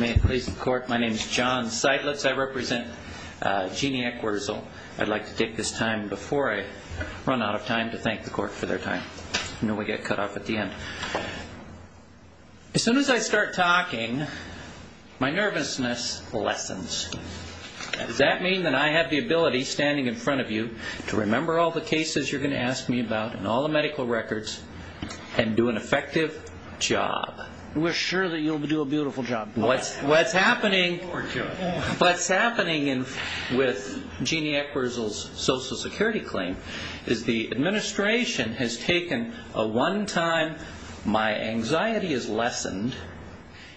As soon as I start talking, my nervousness lessens. Does that mean that I have the ability, standing in front of you, to remember all the cases you're going to ask me about and all the medical records and do an effective job? We're sure that you'll do a beautiful job. What's happening with Jeannie Eckwertzel's Social Security claim is the administration has taken a one-time, my anxiety is lessened,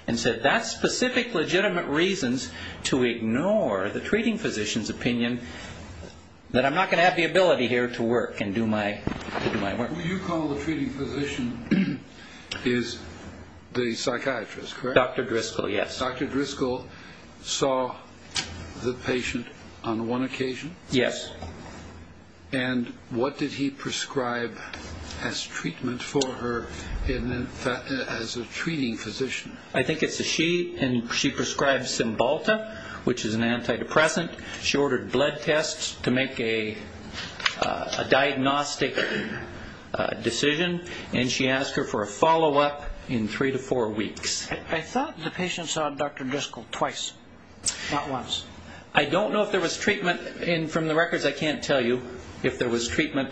and said that's specific legitimate reasons to ignore the treating physician's opinion that I'm not going to have the ability here to work and do my work. Who you call the treating physician is the psychiatrist, correct? Dr. Driscoll, yes. Dr. Driscoll saw the patient on one occasion? Yes. And what did he prescribe as treatment for her as a treating physician? I think it's a she, and she prescribed Cymbalta, which is an antidepressant. She ordered blood tests to make a diagnostic decision, and she asked her for a follow-up in three to four weeks. I thought the patient saw Dr. Driscoll twice, not once. I don't know if there was treatment, and from the records I can't tell you if there was treatment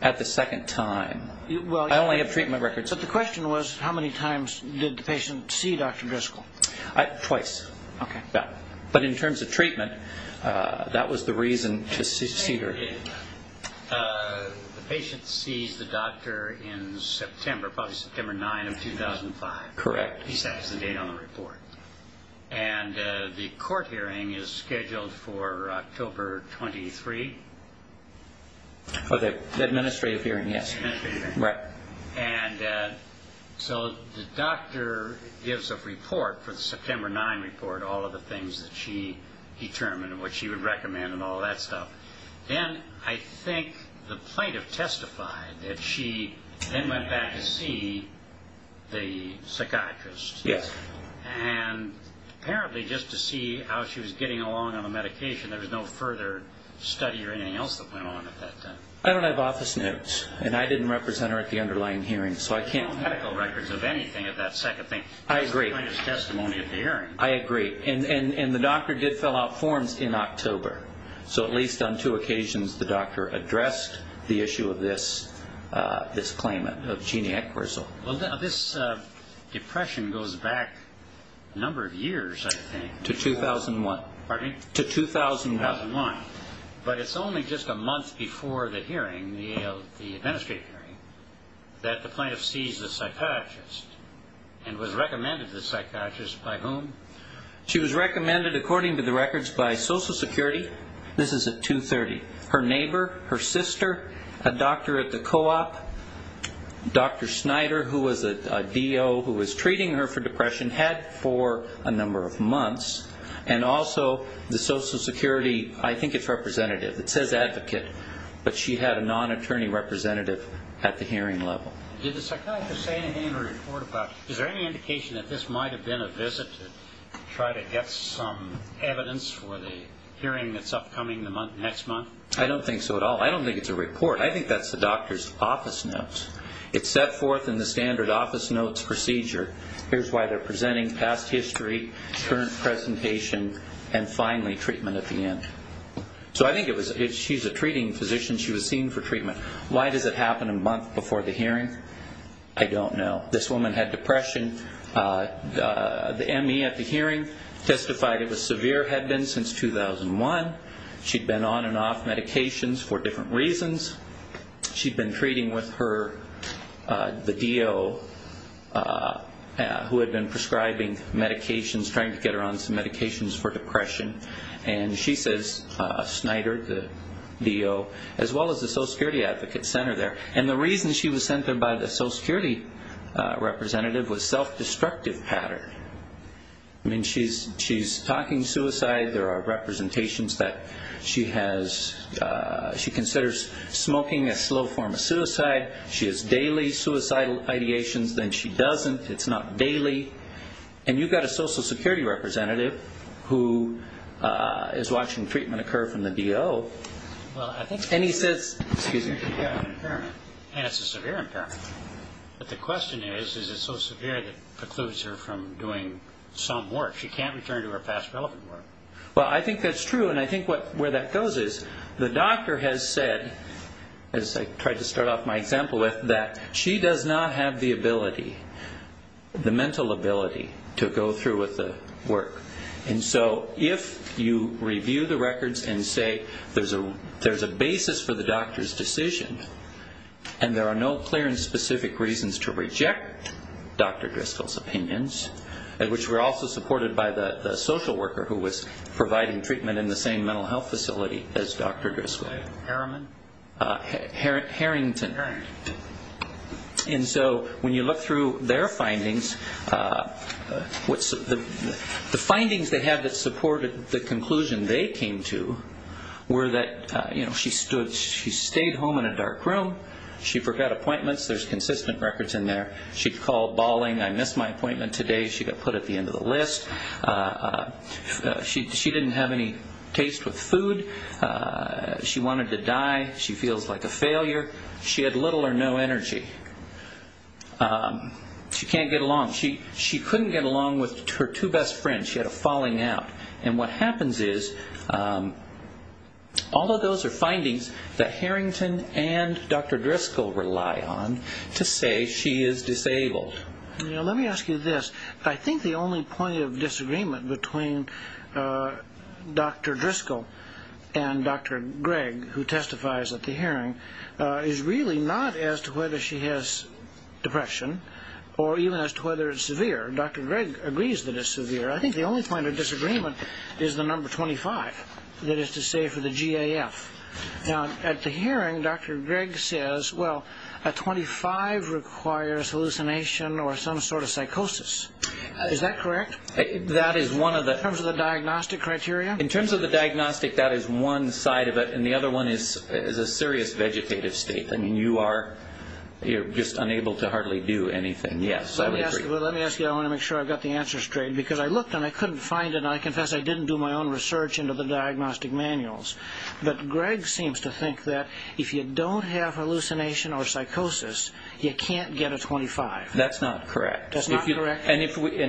at the second time. I only have treatment records. But the question was, how many times did the patient see Dr. Driscoll? Twice. Okay. But in terms of treatment, that was the reason to see her. The patient sees the doctor in September, probably September 9 of 2005. Correct. He sets the date on the report. And the court hearing is scheduled for October 23. For the administrative hearing, yes. Administrative hearing. Right. And so the doctor gives a report for the September 9 report, all of the things that she determined and what she would recommend and all that stuff. Then I think the plaintiff testified that she then went back to see the psychiatrist. Yes. And apparently just to see how she was getting along on the medication, there was no further study or anything else that went on at that time. I don't have office notes, and I didn't represent her at the underlying hearing, so I can't. No medical records of anything at that second thing. I agree. That's the plaintiff's testimony at the hearing. I agree. And the doctor did fill out forms in October. So at least on two occasions the doctor addressed the issue of this claimant, of genie acquisal. Well, this depression goes back a number of years, I think. To 2001. Pardon me? To 2001. But it's only just a month before the hearing, the administrative hearing, that the plaintiff sees the psychiatrist and was recommended to the psychiatrist by whom? She was recommended, according to the records, by Social Security. This is at 2-30. Her neighbor, her sister, a doctor at the co-op, Dr. Snyder, who was a DO who was treating her for depression, had for a number of months. And also the Social Security, I think it's representative. It says advocate, but she had a non-attorney representative at the hearing level. Did the psychiatrist say anything in her report about, is there any indication that this might have been a visit to try to get some evidence for the hearing that's upcoming next month? I don't think so at all. I don't think it's a report. I think that's the doctor's office notes. It's set forth in the standard office notes procedure. Here's why they're presenting past history, current presentation, and finally treatment at the end. So I think she's a treating physician. She was seen for treatment. Why does it happen a month before the hearing? I don't know. This woman had depression. The ME at the hearing testified it was severe, had been since 2001. She'd been on and off medications for different reasons. She'd been treating with her, the DO, who had been prescribing medications, trying to get her on some medications for depression. And she says Snyder, the DO, as well as the Social Security advocate sent her there. And the reason she was sent there by the Social Security representative was self-destructive pattern. I mean, she's talking suicide. There are representations that she considers smoking a slow form of suicide. She has daily suicidal ideations. Then she doesn't. It's not daily. And you've got a Social Security representative who is watching treatment occur from the DO. And he says, excuse me. And it's a severe impairment. But the question is, is it so severe that precludes her from doing some work? She can't return to her past relevant work. Well, I think that's true, and I think where that goes is the doctor has said, as I tried to start off my example with, that she does not have the ability, the mental ability, to go through with the work. And so if you review the records and say there's a basis for the doctor's decision and there are no clear and specific reasons to reject Dr. Driscoll's opinions, which were also supported by the social worker who was providing treatment in the same mental health facility as Dr. Driscoll. Harrington. Harrington. And so when you look through their findings, the findings they had that supported the conclusion they came to were that she stayed home in a dark room. She forgot appointments. There's consistent records in there. She called bawling. I missed my appointment today. She got put at the end of the list. She didn't have any taste with food. She wanted to die. She feels like a failure. She had little or no energy. She can't get along. She couldn't get along with her two best friends. She had a falling out. And what happens is, although those are findings that Harrington and Dr. Driscoll rely on, to say she is disabled. Let me ask you this. I think the only point of disagreement between Dr. Driscoll and Dr. Gregg, who testifies at the hearing, is really not as to whether she has depression or even as to whether it's severe. Dr. Gregg agrees that it's severe. I think the only point of disagreement is the number 25, that is to say for the GAF. At the hearing, Dr. Gregg says, well, a 25 requires hallucination or some sort of psychosis. Is that correct? In terms of the diagnostic criteria? In terms of the diagnostic, that is one side of it. And the other one is a serious vegetative state. I mean, you are just unable to hardly do anything. Yes, I would agree. Let me ask you. I want to make sure I've got the answer straight. Because I looked and I couldn't find it, and I confess I didn't do my own research into the diagnostic manuals. But Gregg seems to think that if you don't have hallucination or psychosis, you can't get a 25. That's not correct. That's not correct? And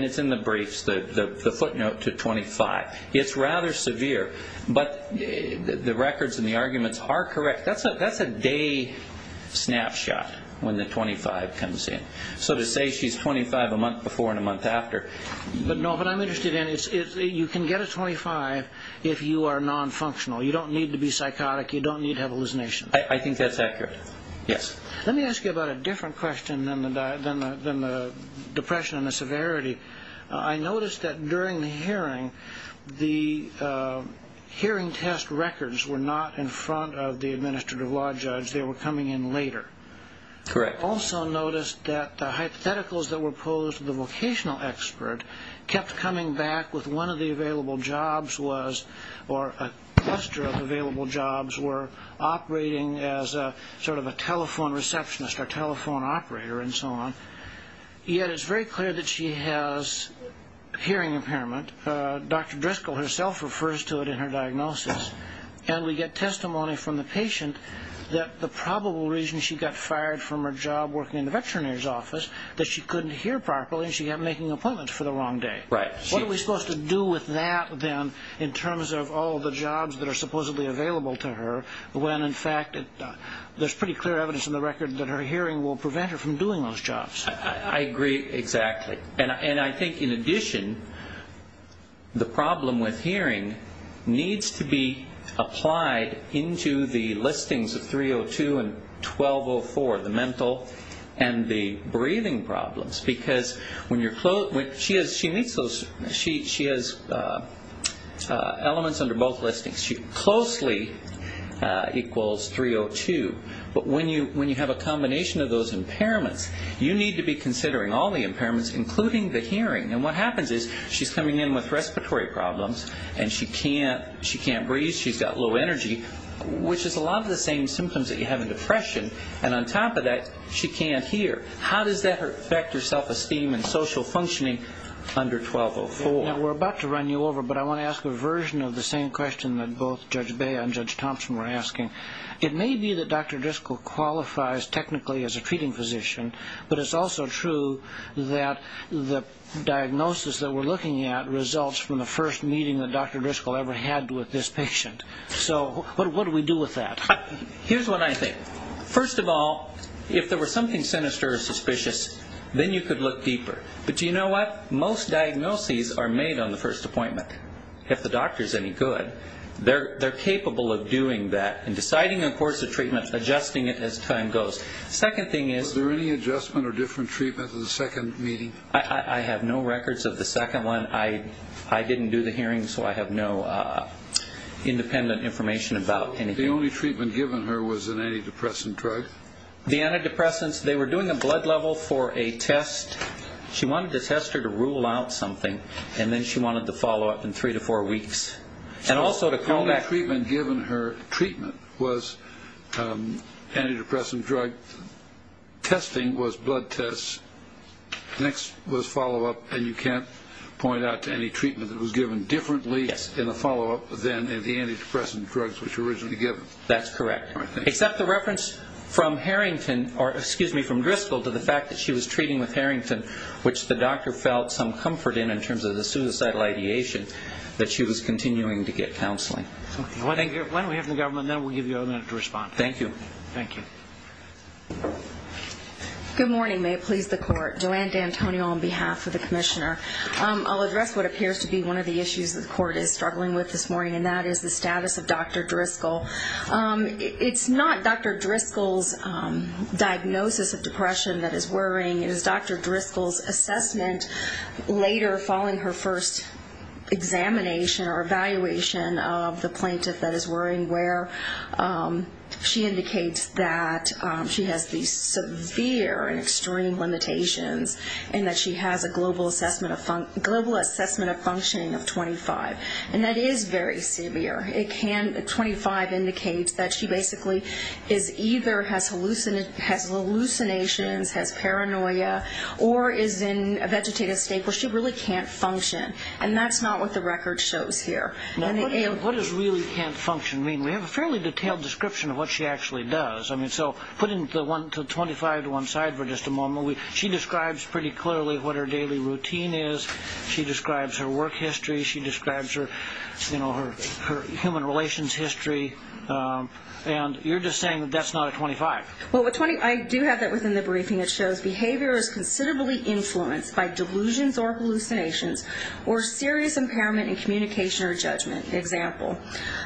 it's in the briefs, the footnote to 25. It's rather severe. But the records and the arguments are correct. That's a day snapshot when the 25 comes in. So to say she's 25 a month before and a month after. But, no, what I'm interested in is you can get a 25 if you are nonfunctional. You don't need to be psychotic. You don't need to have hallucination. I think that's accurate. Yes. Let me ask you about a different question than the depression and the severity. I noticed that during the hearing, the hearing test records were not in front of the administrative law judge. They were coming in later. Correct. I also noticed that the hypotheticals that were posed to the vocational expert kept coming back with one of the available jobs was or a cluster of available jobs were operating as sort of a telephone receptionist or telephone operator and so on. Yet it's very clear that she has hearing impairment. Dr. Driscoll herself refers to it in her diagnosis. And we get testimony from the patient that the probable reason she got fired from her job working in the veterinarian's office is that she couldn't hear properly and she kept making appointments for the wrong day. Right. What are we supposed to do with that, then, in terms of all the jobs that are supposedly available to her when, in fact, there's pretty clear evidence in the record that her hearing will prevent her from doing those jobs? I agree exactly. And I think, in addition, the problem with hearing needs to be applied into the listings of 302 and 1204, the mental and the breathing problems. Because when you're close, when she meets those, she has elements under both listings. She closely equals 302. But when you have a combination of those impairments, you need to be considering all the impairments, including the hearing. And what happens is she's coming in with respiratory problems and she can't breathe, she's got low energy, which is a lot of the same symptoms that you have in depression. And on top of that, she can't hear. How does that affect her self-esteem and social functioning under 1204? Now, we're about to run you over, but I want to ask a version of the same question that both Judge Bea and Judge Thompson were asking. It may be that Dr. Driscoll qualifies technically as a treating physician, but it's also true that the diagnosis that we're looking at results from the first meeting that Dr. Driscoll ever had with this patient. So what do we do with that? Here's what I think. First of all, if there was something sinister or suspicious, then you could look deeper. But do you know what? Most diagnoses are made on the first appointment. If the doctor's any good, they're capable of doing that and deciding the course of treatment, adjusting it as time goes. Second thing is... Was there any adjustment or different treatment in the second meeting? I have no records of the second one. I didn't do the hearing, so I have no independent information about anything. The only treatment given her was an antidepressant drug? The antidepressants, they were doing a blood level for a test. She wanted to test her to rule out something, and then she wanted the follow-up in three to four weeks. The only treatment given her, treatment, was antidepressant drug testing, was blood tests. Next was follow-up, and you can't point out to any treatment that was given differently in the follow-up than in the antidepressant drugs which were originally given. That's correct. Except the reference from Driscoll to the fact that she was treating with Harrington, which the doctor felt some comfort in, in terms of the suicidal ideation, that she was continuing to get counseling. Why don't we have the government, and then we'll give you a minute to respond. Thank you. Thank you. Good morning. May it please the court. Joanne D'Antonio on behalf of the commissioner. I'll address what appears to be one of the issues that the court is struggling with this morning, and that is the status of Dr. Driscoll. It's not Dr. Driscoll's diagnosis of depression that is worrying. It is Dr. Driscoll's assessment later following her first examination or evaluation of the plaintiff that is worrying, where she indicates that she has these severe and extreme limitations and that she has a global assessment of functioning of 25. And that is very severe. 25 indicates that she basically either has hallucinations, has paranoia, or is in a vegetative state where she really can't function. And that's not what the record shows here. What does really can't function mean? We have a fairly detailed description of what she actually does. So put 25 to one side for just a moment. She describes pretty clearly what her daily routine is. She describes her work history. She describes her human relations history. And you're just saying that that's not a 25. Well, I do have that within the briefing. It shows behavior is considerably influenced by delusions or hallucinations or serious impairment in communication or judgment. Example,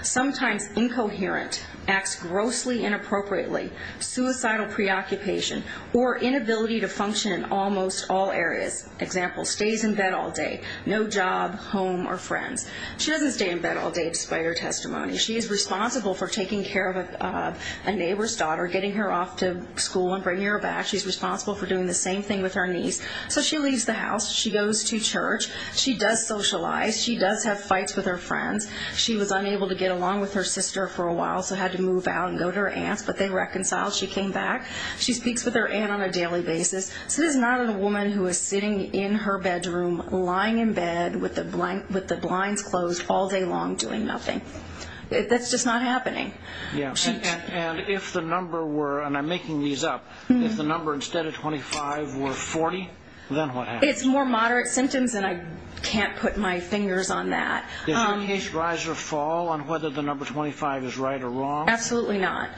sometimes incoherent, acts grossly inappropriately, suicidal preoccupation, or inability to function in almost all areas. Example, stays in bed all day, no job, home, or friends. She doesn't stay in bed all day, despite her testimony. She is responsible for taking care of a neighbor's daughter, getting her off to school and bringing her back. She's responsible for doing the same thing with her niece. So she leaves the house. She goes to church. She does socialize. She does have fights with her friends. She was unable to get along with her sister for a while, so had to move out and go to her aunt's, but they reconciled. She came back. She speaks with her aunt on a daily basis. So this is not a woman who is sitting in her bedroom lying in bed with the blinds closed all day long doing nothing. That's just not happening. And if the number were, and I'm making these up, if the number instead of 25 were 40, then what happens? It's more moderate symptoms, and I can't put my fingers on that. Does your case rise or fall on whether the number 25 is right or wrong? Absolutely not.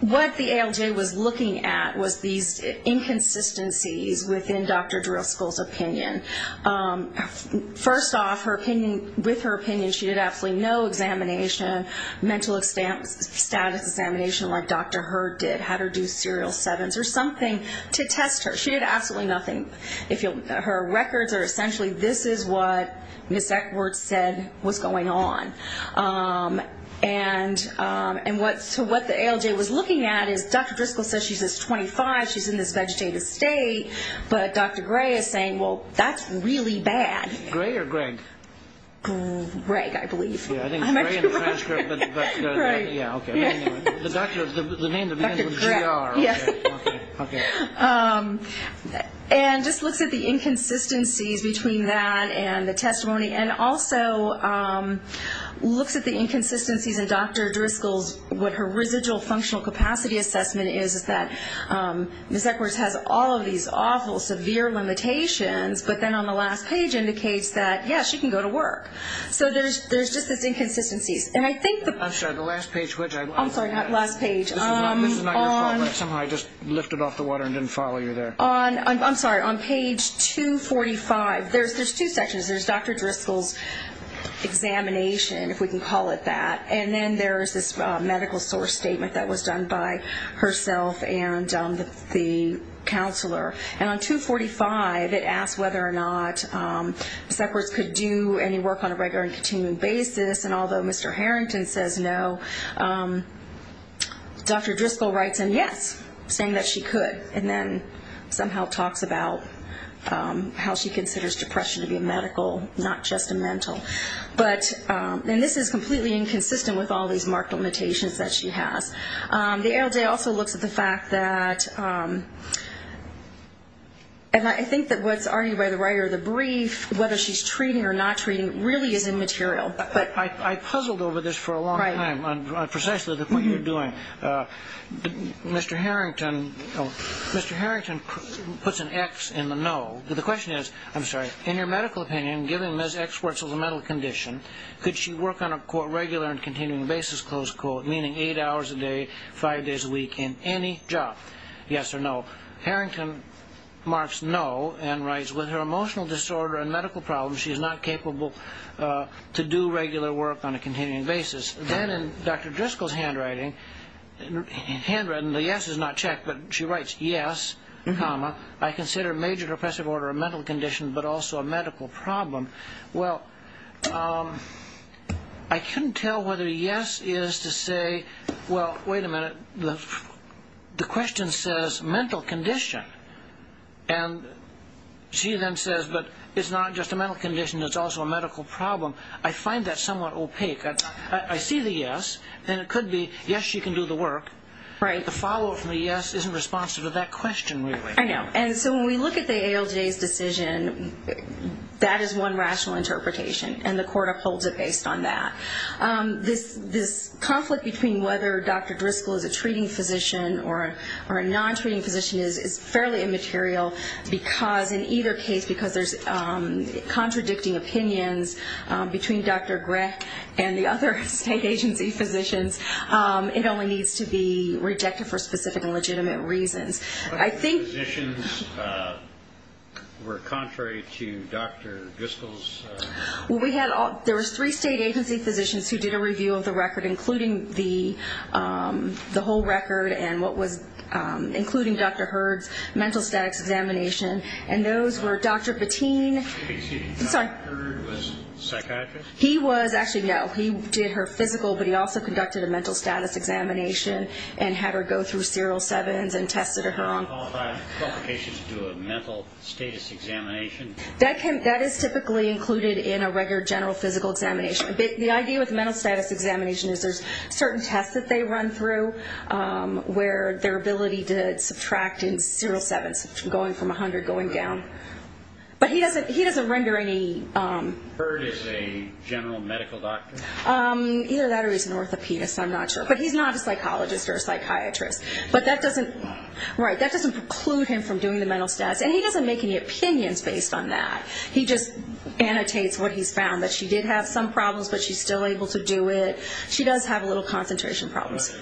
What the ALJ was looking at was these inconsistencies within Dr. Driscoll's opinion. First off, with her opinion, she did absolutely no examination, mental status examination like Dr. Hurd did, had her do serial sevens or something to test her. She did absolutely nothing. Her records are essentially this is what Ms. Eckworth said was going on. And so what the ALJ was looking at is Dr. Driscoll says she's this 25, she's in this vegetative state, but Dr. Gray is saying, well, that's really bad. Gray or Greg? Greg, I believe. I think Gray in the transcript, but yeah, okay. The name that begins with GR. Yes. And just looks at the inconsistencies between that and the testimony and also looks at the inconsistencies in Dr. Driscoll's, what her residual functional capacity assessment is, is that Ms. Eckworth has all of these awful severe limitations, but then on the last page indicates that, yes, she can go to work. So there's just these inconsistencies. I'm sorry, the last page. I'm sorry, not last page. This is not your fault, right? Somehow I just lifted off the water and didn't follow you there. I'm sorry, on page 245, there's two sections. There's Dr. Driscoll's examination, if we can call it that, and then there's this medical source statement that was done by herself and the counselor. And on 245, it asks whether or not Ms. Eckworth could do any work on a regular and continuing basis, and although Mr. Harrington says no, Dr. Driscoll writes in yes, saying that she could, and then somehow talks about how she considers depression to be a medical, not just a mental. And this is completely inconsistent with all these marked limitations that she has. The ALJ also looks at the fact that, and I think that what's argued by the writer of the brief, whether she's treating or not treating, really is immaterial. Mr. Harrington puts an X in the no. The question is, I'm sorry, in your medical opinion, given Ms. Eckworth's mental condition, could she work on a regular and continuing basis, meaning eight hours a day, five days a week, in any job, yes or no? Harrington marks no and writes, with her emotional disorder and medical problems, she is not capable to do regular work on a continuing basis. Then in Dr. Driscoll's handwriting, the yes is not checked, but she writes, yes, comma, I consider major depressive order a mental condition, but also a medical problem. Well, I couldn't tell whether yes is to say, well, wait a minute, the question says mental condition, and she then says, but it's not just a mental condition, it's also a medical problem. I find that somewhat opaque. I see the yes, and it could be, yes, she can do the work, but the follow-up from the yes isn't responsive to that question, really. I know. And so when we look at the ALJ's decision, that is one rational interpretation, and the court upholds it based on that. This conflict between whether Dr. Driscoll is a treating physician or a non-treating physician is fairly immaterial, because in either case, because there's contradicting opinions between Dr. Grech and the other state agency physicians, it only needs to be rejected for specific and legitimate reasons. What other physicians were contrary to Dr. Driscoll's? Well, there was three state agency physicians who did a review of the record, including the whole record, including Dr. Hurd's mental statics examination, and those were Dr. Patin. Excuse me, Dr. Hurd was a psychiatrist? He was, actually, no. He did her physical, but he also conducted a mental status examination and had her go through serial sevens and tested her on. Does that have qualifications to do a mental status examination? That is typically included in a regular general physical examination. The idea with a mental status examination is there's certain tests that they run through where their ability to subtract in serial sevens, going from 100, going down. But he doesn't render any... Hurd is a general medical doctor? Either that or he's an orthopedist. I'm not sure. But he's not a psychologist or a psychiatrist. But that doesn't preclude him from doing the mental status, and he doesn't make any opinions based on that. He just annotates what he's found, that she did have some problems, but she's still able to do it. She does have a little concentration problems.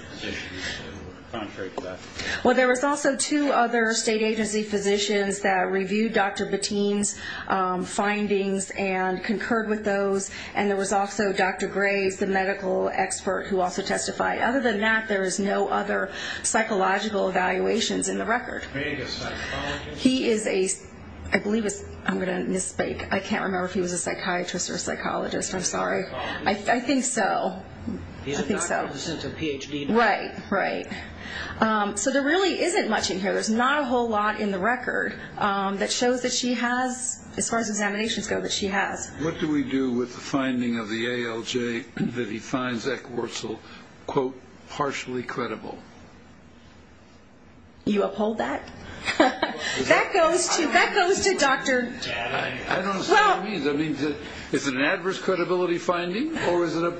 Well, there was also two other state agency physicians that reviewed Dr. Bateen's findings and concurred with those, and there was also Dr. Graves, the medical expert, who also testified. Other than that, there is no other psychological evaluations in the record. He is a... I believe it's... I'm going to misspeak. I can't remember if he was a psychiatrist or a psychologist. I'm sorry. I think so. I think so. He's a doctor in the sense of Ph.D. Right, right. So there really isn't much in here. There's not a whole lot in the record that shows that she has, as far as examinations go, that she has. What do we do with the finding of the ALJ that he finds Eckwurzel, quote, partially credible? That goes to Dr.... I don't understand what that means. Is it an adverse credibility finding, or is it a...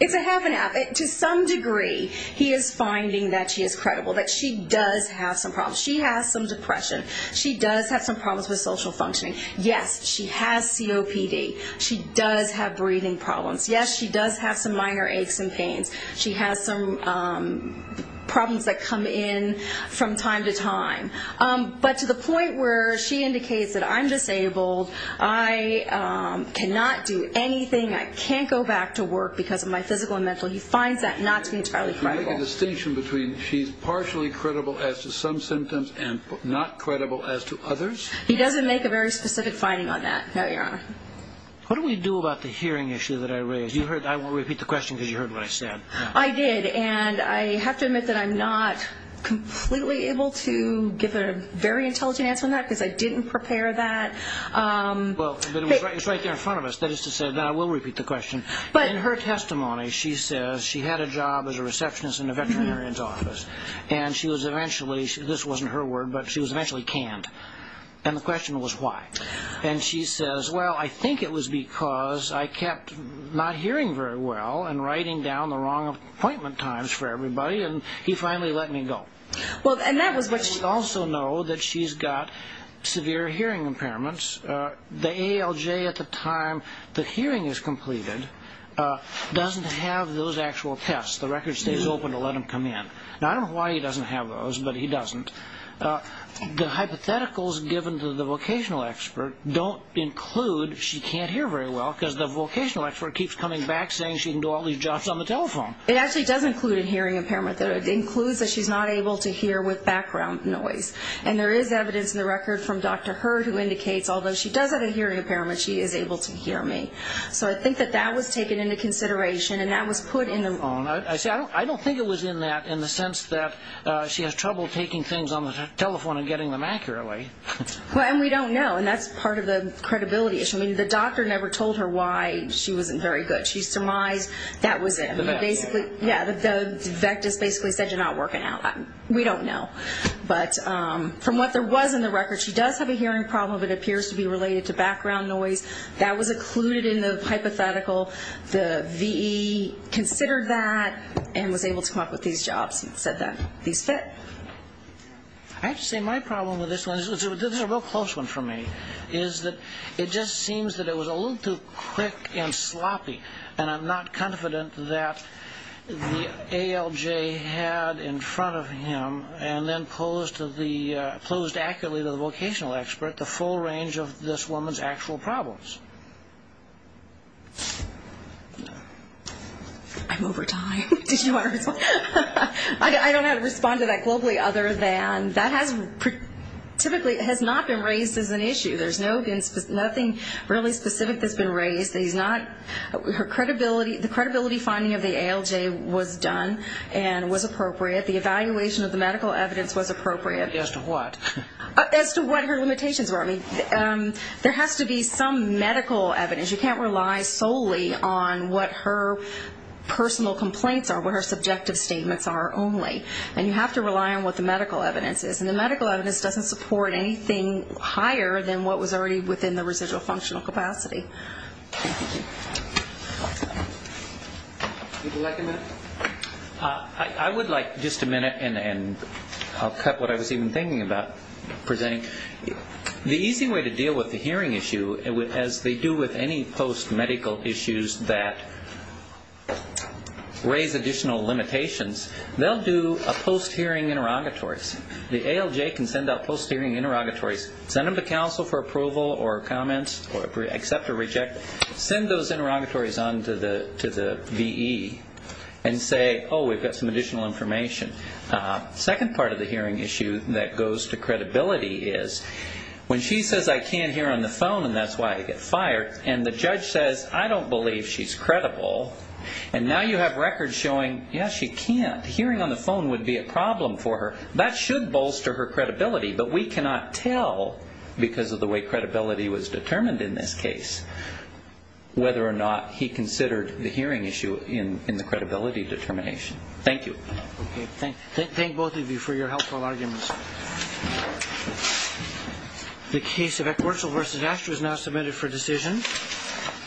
It's a half and half. To some degree, he is finding that she is credible, that she does have some problems. She has some depression. She does have some problems with social functioning. Yes, she has COPD. She does have breathing problems. Yes, she does have some minor aches and pains. She has some problems that come in from time to time. But to the point where she indicates that I'm disabled, I cannot do anything, I can't go back to work because of my physical and mental, he finds that not to be entirely credible. Can you make a distinction between she's partially credible as to some symptoms and not credible as to others? He doesn't make a very specific finding on that, no, Your Honor. What do we do about the hearing issue that I raised? I won't repeat the question because you heard what I said. I did, and I have to admit that I'm not completely able to give a very intelligent answer on that because I didn't prepare that. Well, it's right there in front of us. That is to say that I will repeat the question. In her testimony, she says she had a job as a receptionist in a veterinarian's office, and she was eventually, this wasn't her word, but she was eventually canned. And the question was why. And she says, well, I think it was because I kept not hearing very well and writing down the wrong appointment times for everybody, and he finally let me go. We also know that she's got severe hearing impairments. The ALJ at the time the hearing is completed doesn't have those actual tests. The record stays open to let them come in. Now, I don't know why he doesn't have those, but he doesn't. The hypotheticals given to the vocational expert don't include she can't hear very well because the vocational expert keeps coming back saying she can do all these jobs on the telephone. It actually does include a hearing impairment. It includes that she's not able to hear with background noise. And there is evidence in the record from Dr. Hurd who indicates, although she does have a hearing impairment, she is able to hear me. So I think that that was taken into consideration, and that was put in the loan. I don't think it was in that in the sense that she has trouble taking things on the telephone and getting them accurately. And we don't know, and that's part of the credibility issue. I mean, the doctor never told her why she wasn't very good. She surmised that was it. Basically, yeah, the vectors basically said you're not working out. We don't know. But from what there was in the record, she does have a hearing problem that appears to be related to background noise. That was included in the hypothetical. The VE considered that and was able to come up with these jobs and said that these fit. I have to say my problem with this one, this is a real close one for me, is that it just seems that it was a little too quick and sloppy, and I'm not confident that the ALJ had in front of him and then posed accurately to the vocational expert the full range of this woman's actual problems. I'm over time. I don't know how to respond to that globally other than that typically has not been raised as an issue. There's nothing really specific that's been raised. The credibility finding of the ALJ was done and was appropriate. The evaluation of the medical evidence was appropriate. As to what? As to what her limitations were. I mean, there has to be some medical evidence. You can't rely solely on what her personal complaints are, what her subjective statements are only. And you have to rely on what the medical evidence is. And the medical evidence doesn't support anything higher than what was already within the residual functional capacity. Would you like a minute? I would like just a minute, and I'll cut what I was even thinking about presenting. The easy way to deal with the hearing issue, as they do with any post-medical issues that raise additional limitations, they'll do a post-hearing interrogatories. The ALJ can send out post-hearing interrogatories. Send them to counsel for approval or comments, accept or reject. Send those interrogatories on to the VE and say, oh, we've got some additional information. The second part of the hearing issue that goes to credibility is when she says, I can't hear on the phone, and that's why I get fired. And the judge says, I don't believe she's credible. And now you have records showing, yes, she can't. Hearing on the phone would be a problem for her. That should bolster her credibility, but we cannot tell, because of the way credibility was determined in this case, whether or not he considered the hearing issue in the credibility determination. Thank you. Thank both of you for your helpful arguments. The case of Eckwurzel v. Asher is now submitted for decision.